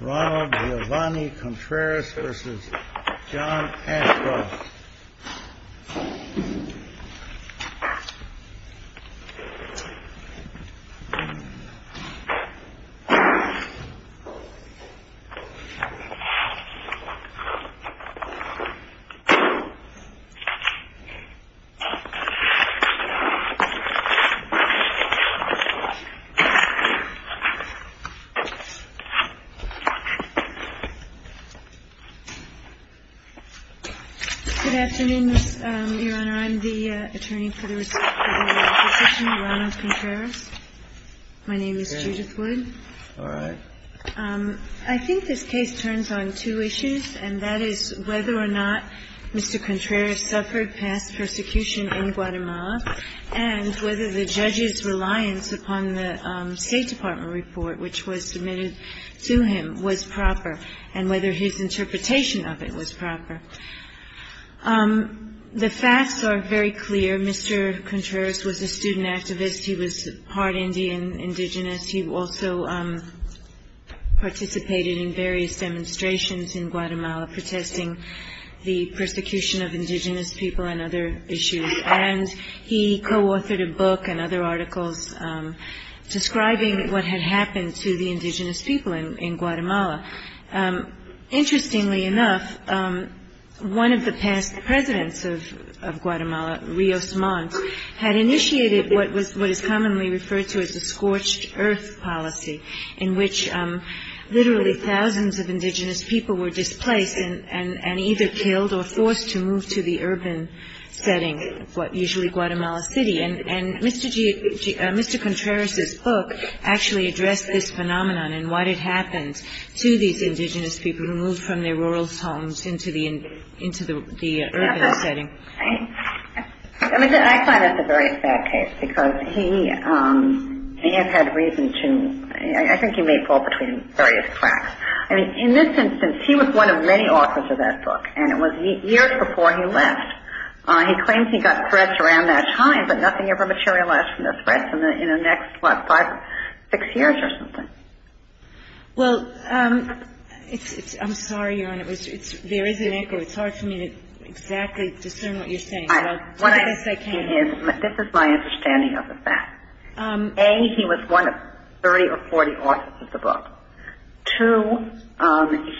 Ronald Giovanni Contreras v. John Ashcroft Good afternoon, Your Honor. I'm the attorney for the receipt of the petition, Ronald Contreras. My name is Judith Wood. All right. I think this case turns on two issues, and that is whether or not Mr. Contreras suffered past persecution in Guatemala, and whether the judge's reliance upon the State Department report which was submitted to him was proper, and whether his interpretation of it was proper. The facts are very clear. Mr. Contreras was a student activist. He was part Indian, indigenous. He also participated in various demonstrations in Guatemala protesting the persecution of indigenous people and other issues. And he co-authored a book and other articles describing what had happened to the indigenous people in Guatemala. Interestingly enough, one of the past presidents of Guatemala, Rios Montt, had initiated what is commonly referred to as the scorched earth policy, in which literally thousands of indigenous people were displaced and either killed or forced to move to the urban setting, usually Guatemala City. And Mr. Contreras' book actually addressed this phenomenon and what had happened to these indigenous people who moved from their rural homes into the urban setting. I find this a very sad case because he has had reason to, I think he may fall between various tracks. I mean, in this instance, he was one of many authors of that book, and it was years before he left. He claims he got threats around that time, but nothing ever materialized from those threats in the next, what, five, six years or something. Well, I'm sorry, Erin. There is an echo. It's hard for me to exactly discern what you're saying, but I guess I can. This is my understanding of the fact. A, he was one of 30 or 40 authors of the book. Two,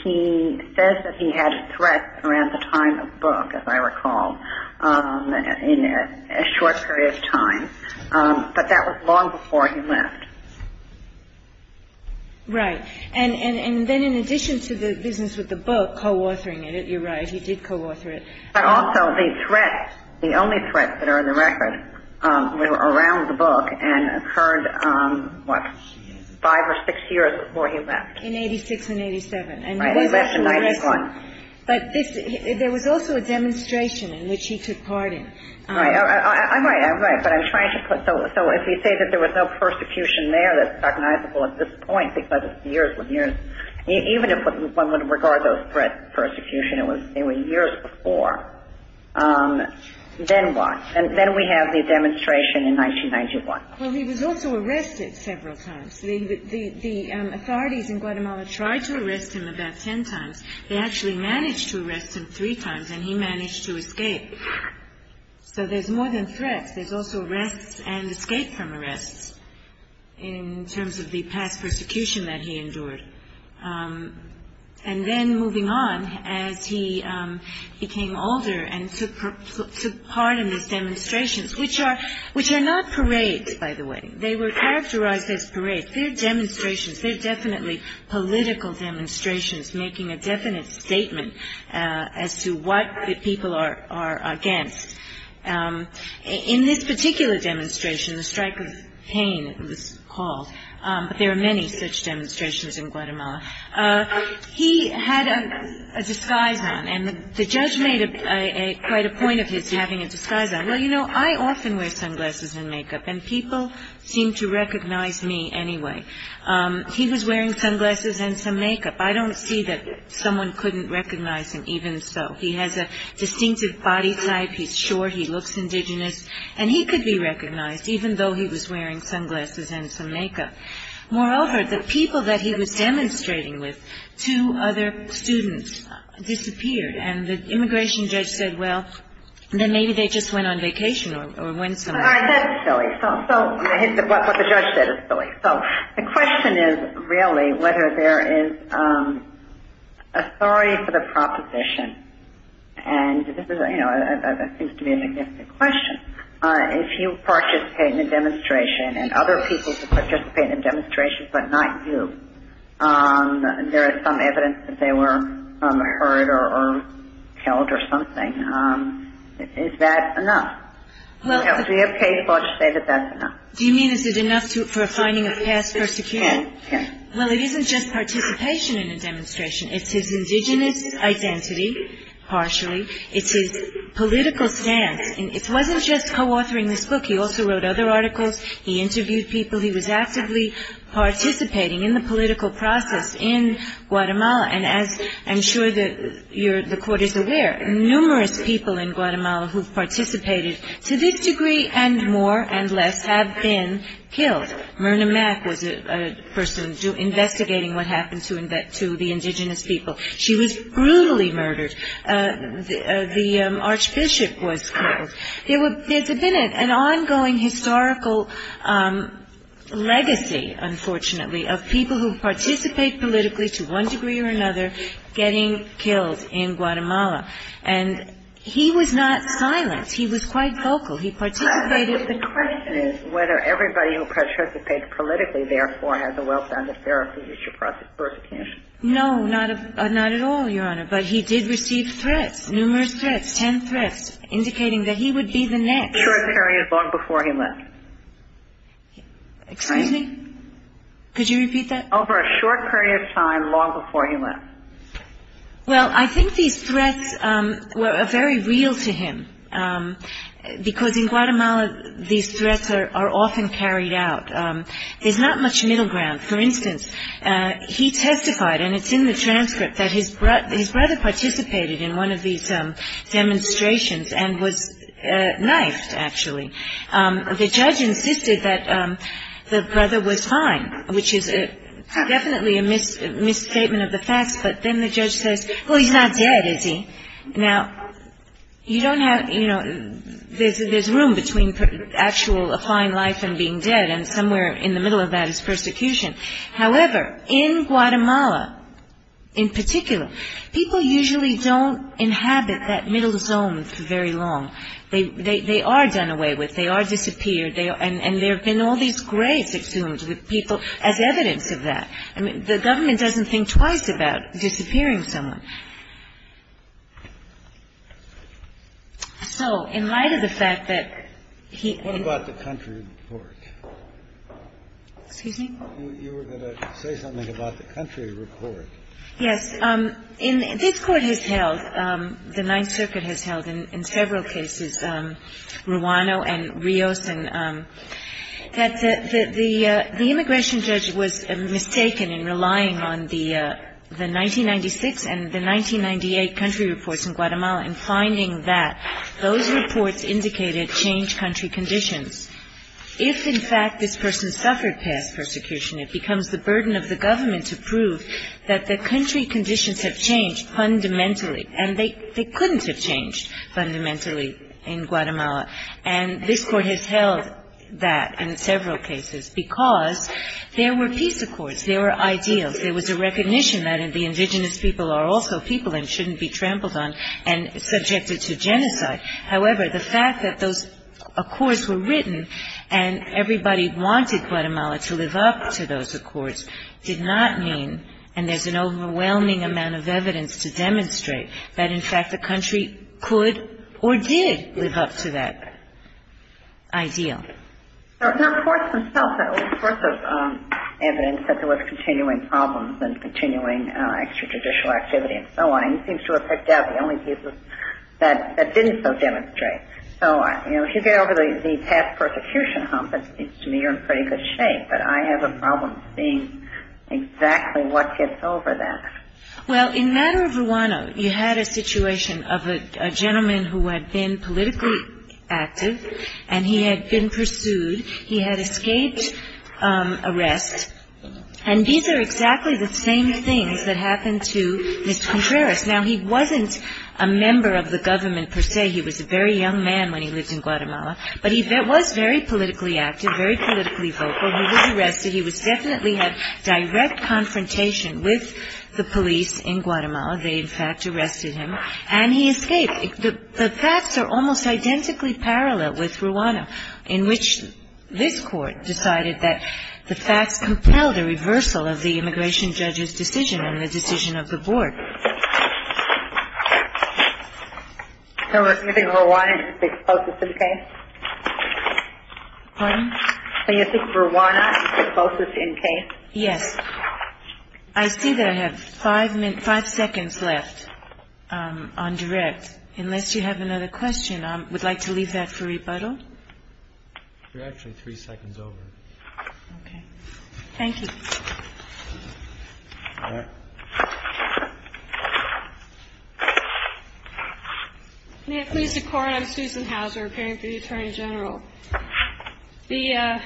he says that he had threats around the time of the book, as I recall, in a short period of time. But that was long before he left. Right. And then in addition to the business with the book, co-authoring it, you're right, he did co-author it. But also the threats, the only threats that are in the record were around the book and occurred, what, five or six years before he left. In 86 and 87. Right, he left in 91. But there was also a demonstration in which he took part in. I'm right, I'm right, but I'm trying to put, so if you say that there was no persecution there that's recognizable at this point because it's years and years, even if one would regard those threats as persecution, it was years before, then what? Then we have the demonstration in 1991. Well, he was also arrested several times. The authorities in Guatemala tried to arrest him about ten times. They actually managed to arrest him three times, and he managed to escape. So there's more than threats. There's also arrests and escape from arrests in terms of the past persecution that he endured. And then moving on, as he became older and took part in these demonstrations, which are not parades, by the way. They were characterized as parades. They're demonstrations. They're definitely political demonstrations making a definite statement as to what the people are against. In this particular demonstration, the strike of pain, it was called, but there are many such demonstrations in Guatemala, he had a disguise on, and the judge made quite a point of his having a disguise on. Well, you know, I often wear sunglasses and makeup, and people seem to recognize me anyway. He was wearing sunglasses and some makeup. I don't see that someone couldn't recognize him even so. He has a distinctive body type. He's short. He looks indigenous. And he could be recognized, even though he was wearing sunglasses and some makeup. Moreover, the people that he was demonstrating with, two other students, disappeared, and the immigration judge said, well, then maybe they just went on vacation or went somewhere. All right. That's silly. What the judge said is silly. The question is, really, whether there is authority for the proposition, and this seems to be a significant question. If you participate in a demonstration and other people participate in demonstrations but not you, there is some evidence that they were hurt or killed or something. Is that enough? If we have case watch data, that's enough. Do you mean is it enough for a finding of past persecution? Yes. Well, it isn't just participation in a demonstration. It's his indigenous identity, partially. It's his political stance. It wasn't just co-authoring this book. He also wrote other articles. He interviewed people. He was actively participating in the political process in Guatemala. And as I'm sure the Court is aware, numerous people in Guatemala who participated to this degree and more and less have been killed. Myrna Mack was a person investigating what happened to the indigenous people. She was brutally murdered. The archbishop was killed. There's been an ongoing historical legacy, unfortunately, of people who participate politically to one degree or another getting killed in Guatemala. And he was not silent. He was quite vocal. He participated. The question is whether everybody who participates politically, therefore, has a well-founded fear of future persecution. No, not at all, Your Honor. But he did receive threats, numerous threats, ten threats, indicating that he would be the next. Short period long before he left. Excuse me? Could you repeat that? Over a short period of time long before he left. Well, I think these threats were very real to him because in Guatemala these threats are often carried out. There's not much middle ground. For instance, he testified, and it's in the transcript, that his brother participated in one of these demonstrations and was knifed, actually. The judge insisted that the brother was fine, which is definitely a misstatement of the facts. But then the judge says, well, he's not dead, is he? Now, you don't have, you know, there's room between actual applying life and being dead, and somewhere in the middle of that is persecution. However, in Guatemala in particular, people usually don't inhabit that middle zone for very long. They are done away with. They are disappeared. And there have been all these graves exhumed with people as evidence of that. I mean, the government doesn't think twice about disappearing someone. So in light of the fact that he — What about the country report? Excuse me? You were going to say something about the country report. Yes. This Court has held, the Ninth Circuit has held in several cases, Ruano and Rios, and that the immigration judge was mistaken in relying on the 1996 and the 1998 country reports in Guatemala in finding that those reports indicated changed country conditions. If, in fact, this person suffered past persecution, it becomes the burden of the government to prove that the country conditions have changed fundamentally. And they couldn't have changed fundamentally in Guatemala. And this Court has held that in several cases because there were peace accords. There were ideals. There was a recognition that the indigenous people are also people and shouldn't be trampled on and subjected to genocide. However, the fact that those accords were written and everybody wanted Guatemala to live up to those accords did not mean, and there's an overwhelming amount of evidence to demonstrate, that, in fact, the country could or did live up to that ideal. Now, the courts themselves, that old source of evidence that there was continuing problems and continuing extrajudicial activity and so on, it seems to have picked out the only pieces that didn't so demonstrate. So, you know, if you get over the past persecution hump, it seems to me you're in pretty good shape. But I have a problem seeing exactly what gets over that. Well, in the matter of Ruano, you had a situation of a gentleman who had been politically active and he had been pursued. He had escaped arrest. And these are exactly the same things that happened to Mr. Contreras. Now, he wasn't a member of the government per se. He was a very young man when he lived in Guatemala. But he was very politically active, very politically vocal. He was arrested. He definitely had direct confrontation with the police in Guatemala. They, in fact, arrested him. And he escaped. The facts are almost identically parallel with Ruano, in which this court decided that the facts compelled a reversal of the immigration judge's decision and the decision of the board. So do you think Ruano is the closest in case? Pardon? Do you think Ruano is the closest in case? Yes. I see that I have five seconds left on direct. Unless you have another question, I would like to leave that for rebuttal. You're actually three seconds over. Okay. Thank you. All right. May it please the Court? I'm Susan Hauser, appearing for the Attorney General. The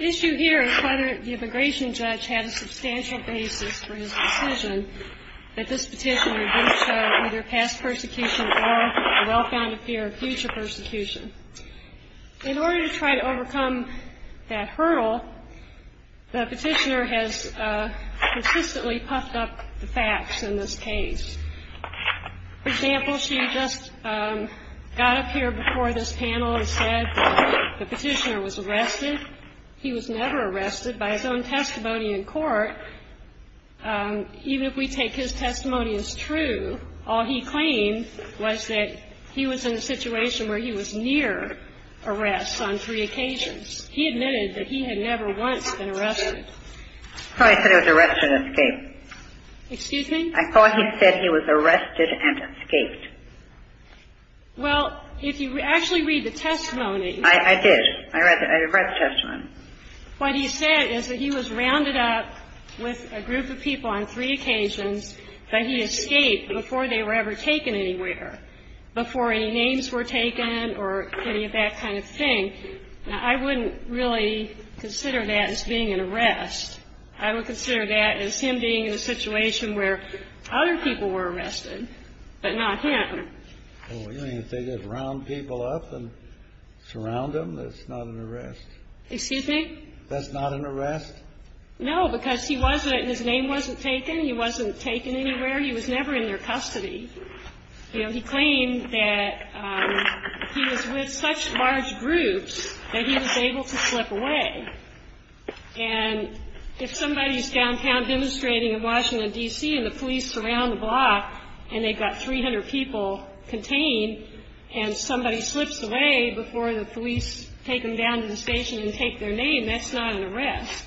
issue here is whether the immigration judge had a substantial basis for his decision that this petition reduced either past persecution or the well-founded fear of future persecution. In order to try to overcome that hurdle, the petitioner has consistently puffed up the facts in this case. For example, she just got up here before this panel and said that the petitioner was arrested. He was never arrested. By his own testimony in court, even if we take his testimony as true, all he claimed was that he was in a situation where he was near arrest on three occasions. He admitted that he had never once been arrested. I thought he said he was arrested and escaped. Excuse me? I thought he said he was arrested and escaped. Well, if you actually read the testimony. I did. I read the testimony. What he said is that he was rounded up with a group of people on three occasions, but he escaped before they were ever taken anywhere, before any names were taken or any of that kind of thing. Now, I wouldn't really consider that as being an arrest. I would consider that as him being in a situation where other people were arrested, but not him. Oh, you mean if they just round people up and surround them, that's not an arrest? Excuse me? That's not an arrest? No, because he wasn't and his name wasn't taken. He wasn't taken anywhere. He was never in their custody. You know, he claimed that he was with such large groups that he was able to slip away. And if somebody's downtown demonstrating in Washington, D.C., and the police surround the block and they've got 300 people contained and somebody slips away before the police take them down to the station and take their name, that's not an arrest.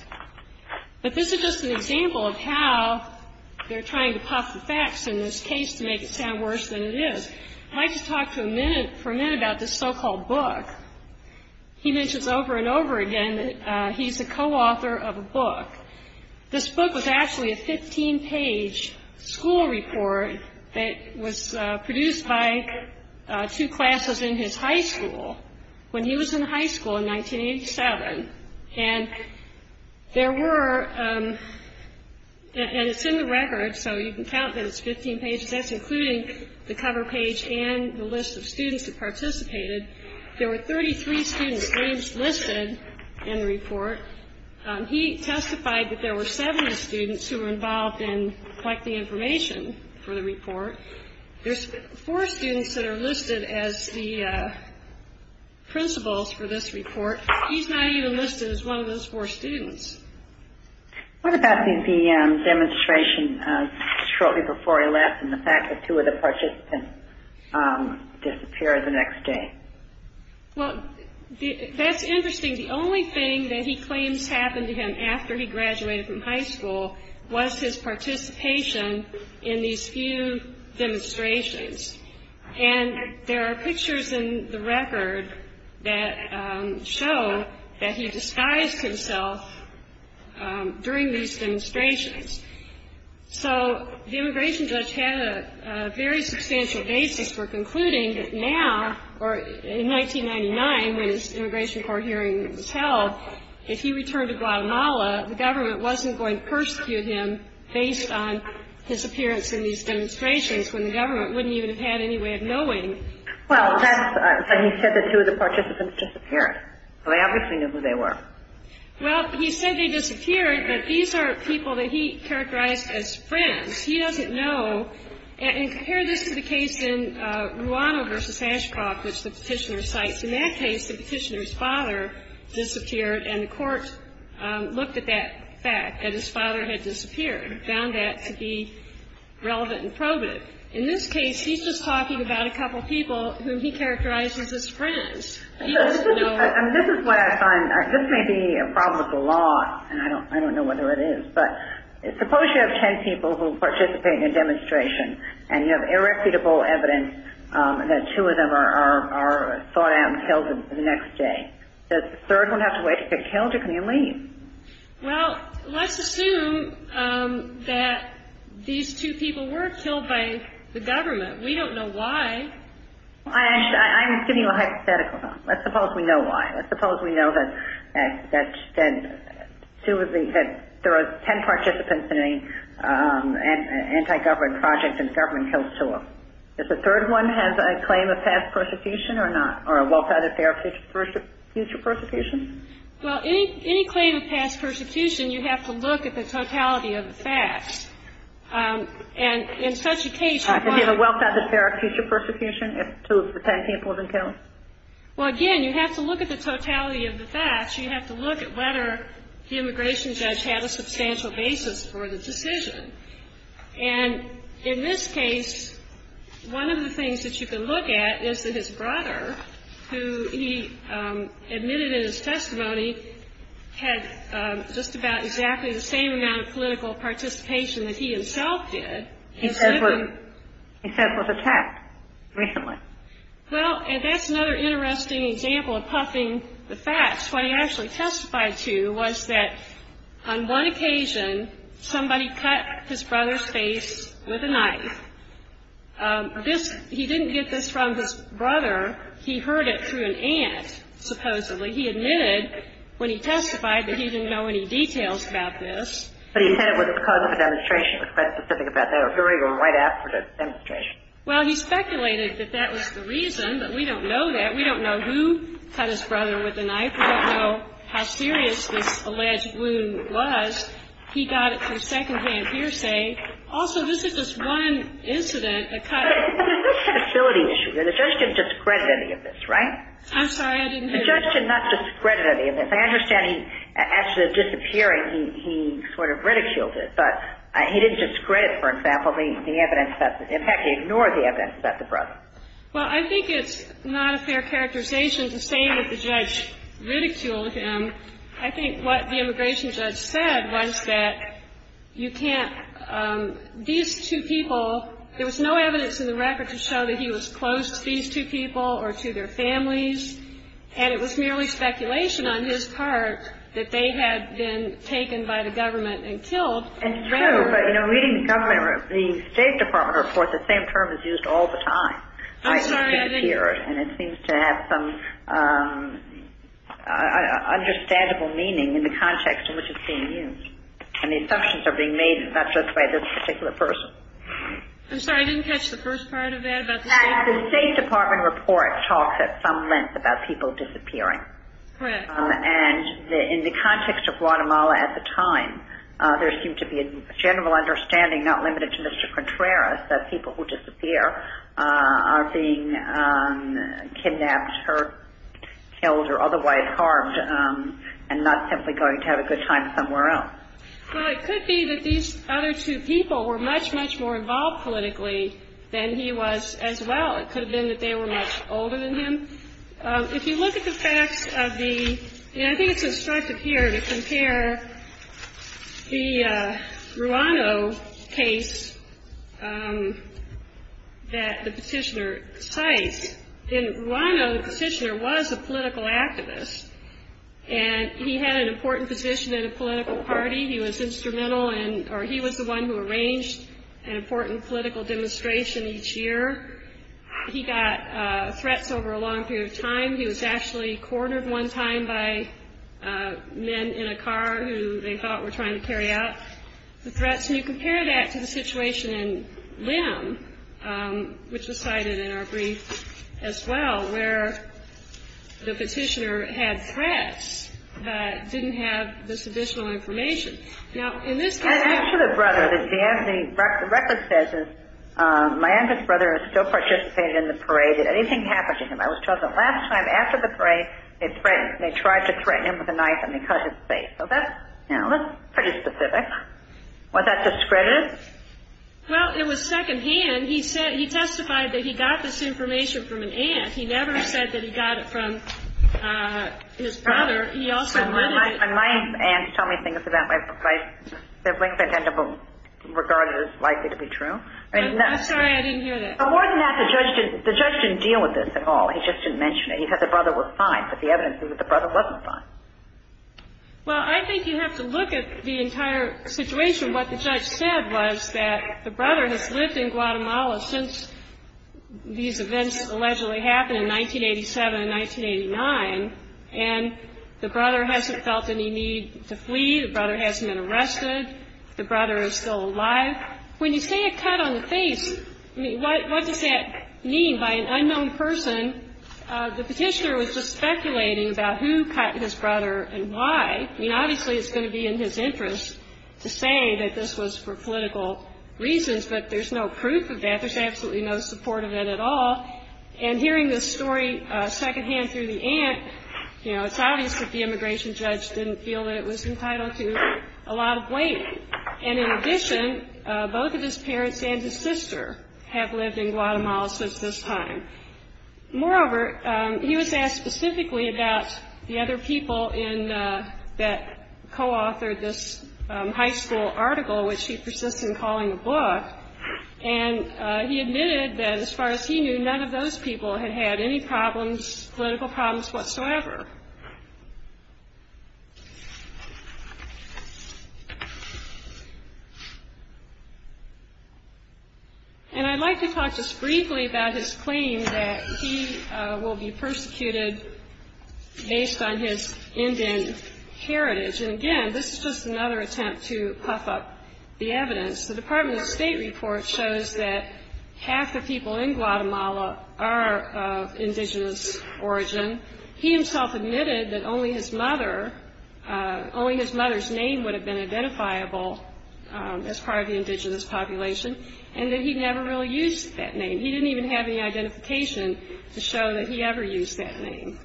But this is just an example of how they're trying to pop the facts in this case to make it sound worse than it is. I'd like to talk for a minute about this so-called book. He mentions over and over again that he's a co-author of a book. This book was actually a 15-page school report that was produced by two classes in his high school when he was in high school in 1987. And there were ñ and it's in the record, so you can count that it's 15 pages. That's including the cover page and the list of students that participated. There were 33 students names listed in the report. He testified that there were 70 students who were involved in collecting information for the report. There's four students that are listed as the principals for this report. He's not even listed as one of those four students. What about the demonstration shortly before he left and the fact that two of the participants disappeared the next day? Well, that's interesting. The only thing that he claims happened to him after he graduated from high school was his participation in these few demonstrations. And there are pictures in the record that show that he disguised himself during these demonstrations. So the immigration judge had a very substantial basis for concluding that now, or in 1999 when his immigration court hearing was held, if he returned to Guatemala, the government wasn't going to persecute him based on his appearance in these demonstrations when the government wouldn't even have had any way of knowing. Well, that's ñ so he said that two of the participants disappeared. So they obviously knew who they were. Well, he said they disappeared, but these are people that he characterized as friends. He doesn't know ñ and compare this to the case in Ruano v. Ashcroft, which the Petitioner cites. In that case, the Petitioner's father disappeared, and the court looked at that fact, that his father had disappeared, and found that to be relevant and probative. In this case, he's just talking about a couple people whom he characterizes as friends. This is what I find ñ this may be a problem with the law, and I don't know whether it is, but suppose you have ten people who participate in a demonstration, and you have irrefutable evidence that two of them are sought out and killed the next day. Does the third one have to wait to get killed, or can he leave? Well, let's assume that these two people were killed by the government. We don't know why. I'm giving you a hypothetical. Let's suppose we know why. Let's suppose we know that two of the ñ that there are ten participants in an anti-government project, and the government kills two of them. Does the third one have a claim of past persecution or not, or a wealth of other future persecution? Well, any claim of past persecution, you have to look at the totality of the facts, and in such a case, Well, again, you have to look at the totality of the facts. You have to look at whether the immigration judge had a substantial basis for the decision. And in this case, one of the things that you can look at is that his brother, who he admitted in his testimony had just about exactly the same amount of political participation that he himself did. He says was attacked recently. Well, and that's another interesting example of puffing the facts. What he actually testified to was that on one occasion, somebody cut his brother's face with a knife. This ñ he didn't get this from his brother. He heard it through an aunt, supposedly. He admitted when he testified that he didn't know any details about this. But he said it was because of a demonstration. It was quite specific about that. A hurry went right after the demonstration. Well, he speculated that that was the reason, but we don't know that. We don't know who cut his brother with a knife. We don't know how serious this alleged wound was. He got it through secondhand hearsay. Also, this is just one incident that cut ñ But there's a possibility issue here. The judge didn't discredit any of this, right? I'm sorry, I didn't hear you. The judge did not discredit any of this. I understand he ñ after disappearing, he sort of ridiculed it. But he didn't discredit, for example, the evidence that ñ in fact, he ignored the evidence about the brother. Well, I think it's not a fair characterization to say that the judge ridiculed him. I think what the immigration judge said was that you can't ñ these two people, there was no evidence in the record to show that he was close to these two people or to their families. And it was merely speculation on his part that they had been taken by the government and killed. And it's true. But, you know, reading the government ñ the State Department report, the same term is used all the time. I'm sorry, I didn't ñ And it seems to have some understandable meaning in the context in which it's being used. And the assumptions are being made not just by this particular person. I'm sorry, I didn't catch the first part of that about the State ñ In fact, the State Department report talks at some length about people disappearing. And in the context of Guatemala at the time, there seemed to be a general understanding, not limited to Mr. Contreras, that people who disappear are being kidnapped, hurt, killed or otherwise harmed and not simply going to have a good time somewhere else. Well, it could be that these other two people were much, much more involved politically than he was as well. It could have been that they were much older than him. If you look at the facts of the ñ and I think it's instructive here to compare the Ruano case that the petitioner cites. In Ruano, the petitioner was a political activist. And he had an important position in a political party. He was instrumental in ñ or he was the one who arranged an important political demonstration each year. He got threats over a long period of time. He was actually cornered one time by men in a car who they thought were trying to carry out the threats. And you compare that to the situation in Lim, which was cited in our brief as well, where the petitioner had threats, but didn't have this additional information. Now, in this case ñ And after the brother, as the record says, my aunt's brother still participated in the parade. Did anything happen to him? I was told that last time after the parade, they threatened ñ they tried to threaten him with a knife and they cut his face. So that's ñ you know, that's pretty specific. Was that discredited? Well, it was secondhand. He testified that he got this information from an aunt. He testified that he never said that he got it from his brother. He also wanted it ñ And my aunts tell me things that way. If I ñ that brings an end to what's regarded as likely to be true. I'm sorry. I didn't hear that. But more than that, the judge didn't ñ the judge didn't deal with this at all. He just didn't mention it. He said the brother was fine. But the evidence is that the brother wasn't fine. Well, I think you have to look at the entire situation. What the judge said was that the brother has lived in Guatemala since these events allegedly happened in 1987 and 1989. And the brother hasn't felt any need to flee. The brother hasn't been arrested. The brother is still alive. When you say a cut on the face, I mean, what does that mean by an unknown person? The Petitioner was just speculating about who cut his brother and why. I mean, obviously, it's going to be in his interest to say that this was for political reasons. But there's no proof of that. There's absolutely no support of it at all. And hearing this story secondhand through the aunt, you know, it's obvious that the immigration judge didn't feel that it was entitled to a lot of weight. And in addition, both of his parents and his sister have lived in Guatemala since this time. Moreover, he was asked specifically about the other people that co-authored this high school article, which he persists in calling a book. And he admitted that as far as he knew, none of those people had had any problems, political problems whatsoever. And I'd like to talk just briefly about his claim that he will be persecuted based on his Indian heritage. And again, this is just another attempt to puff up the evidence. The Department of State report shows that half the people in Guatemala are of indigenous origin. He himself admitted that only his mother's name would have been identifiable as part of the indigenous population, and that he never really used that name. He didn't even have any identification to show that he ever used that name.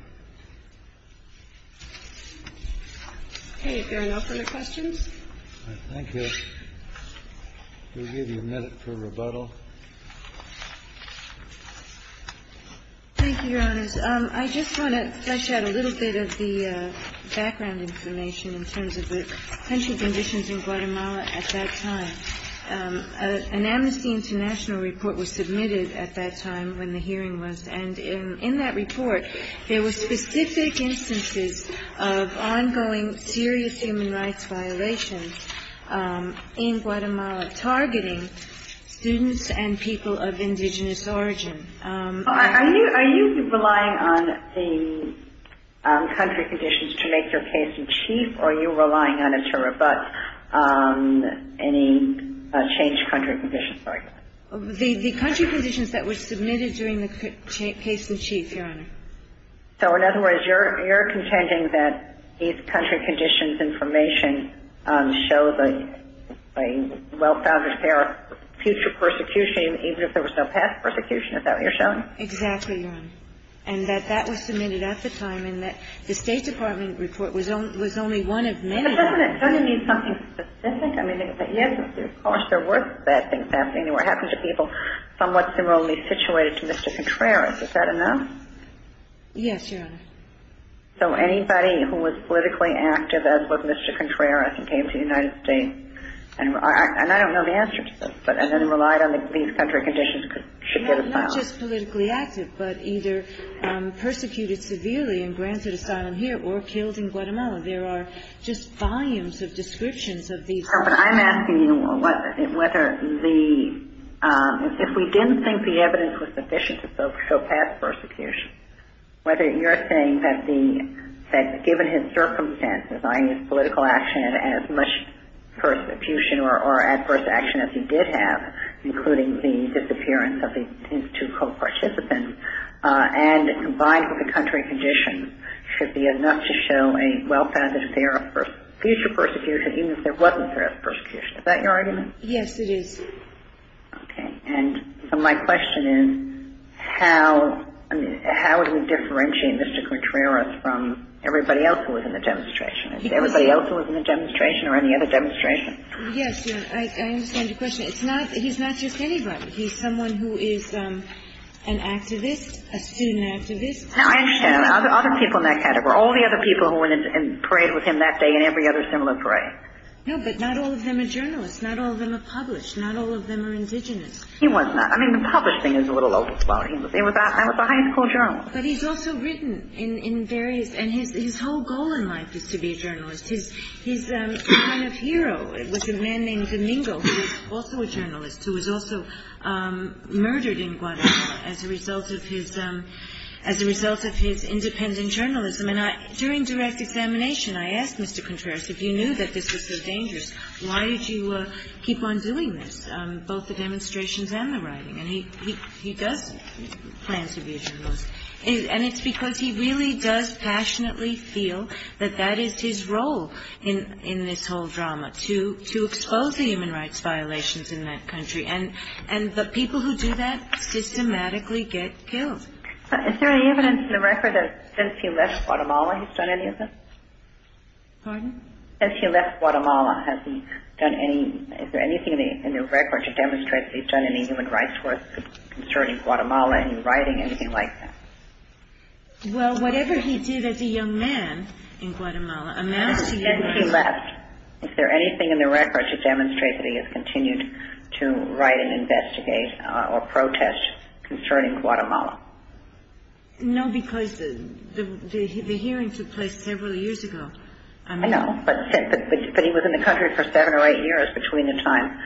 Okay. If there are no further questions. Thank you. We'll give you a minute for rebuttal. Thank you, Your Honors. I just want to touch on a little bit of the background information in terms of the potential conditions in Guatemala at that time. An Amnesty International report was submitted at that time when the hearing was, and in that report there were specific instances of ongoing serious human rights violations in Guatemala, targeting students and people of indigenous origin. Are you relying on the country conditions to make your case in chief, or are you relying on it to rebut any changed country conditions? The country conditions that were submitted during the case in chief, Your Honor. So in other words, you're contending that these country conditions information shows a well-founded fear of future persecution, even if there was no past persecution, is that what you're showing? Exactly, Your Honor. And that that was submitted at the time, and that the State Department report was only one of many. But doesn't it mean something specific? I mean, yes, of course there were bad things happening. There were happenings of people somewhat similarly situated to Mr. Contreras. Is that enough? Yes, Your Honor. So anybody who was politically active as was Mr. Contreras and came to the United States, and I don't know the answer to this, but relied on these country conditions should get asylum. Not just politically active, but either persecuted severely and granted asylum here or killed in Guatemala. There are just volumes of descriptions of these. But I'm asking you whether the ‑‑ if we didn't think the evidence was sufficient to show past persecution, whether you're saying that given his circumstances, i.e. political action and as much persecution or adverse action as he did have, including the disappearance of his two co‑participants, and combined with the country conditions, should be enough to show a well-founded fear of future persecution, even if there wasn't fear of persecution. Is that your argument? Yes, it is. Okay. And so my question is how do we differentiate Mr. Contreras from everybody else who was in the demonstration? Is it everybody else who was in the demonstration or any other demonstration? Yes, Your Honor. I understand your question. It's not ‑‑ he's not just anybody. He's someone who is an activist, a student activist. I understand. Other people in that category. All the other people who went and prayed with him that day and every other similar prayer. No, but not all of them are journalists. Not all of them are published. Not all of them are indigenous. He was not. I mean, the published thing is a little old school. He was a high school journalist. But he's also written in various ‑‑ and his whole goal in life is to be a journalist. His line of hero was a man named Domingo, who was also a journalist, who was also murdered in Guadalajara as a result of his independent journalism. And during direct examination I asked Mr. Contreras, if you knew that this was so dangerous, why did you keep on doing this, both the demonstrations and the writing? And he does plan to be a journalist. And it's because he really does passionately feel that that is his role in this whole drama, to expose the human rights violations in that country. And the people who do that systematically get killed. Is there any evidence in the record that since he left Guatemala he's done any of this? Pardon? Since he left Guatemala, has he done any ‑‑ is there anything in the record to demonstrate that he's done any human rights work concerning Guatemala and writing anything like that? Well, whatever he did as a young man in Guatemala amounts to ‑‑ Since he left, is there anything in the record to demonstrate that he has continued to write and investigate or protest concerning Guatemala? No, because the hearing took place several years ago. I know. But he was in the country for seven or eight years between the time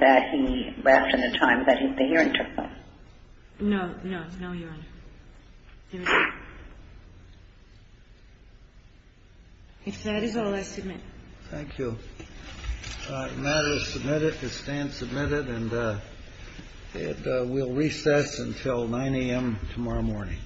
that he left and the time that the hearing took place. No, no, no, Your Honor. If that is all, I submit. Thank you. The matter is submitted. The stand is submitted. And we'll recess until 9 a.m. tomorrow morning.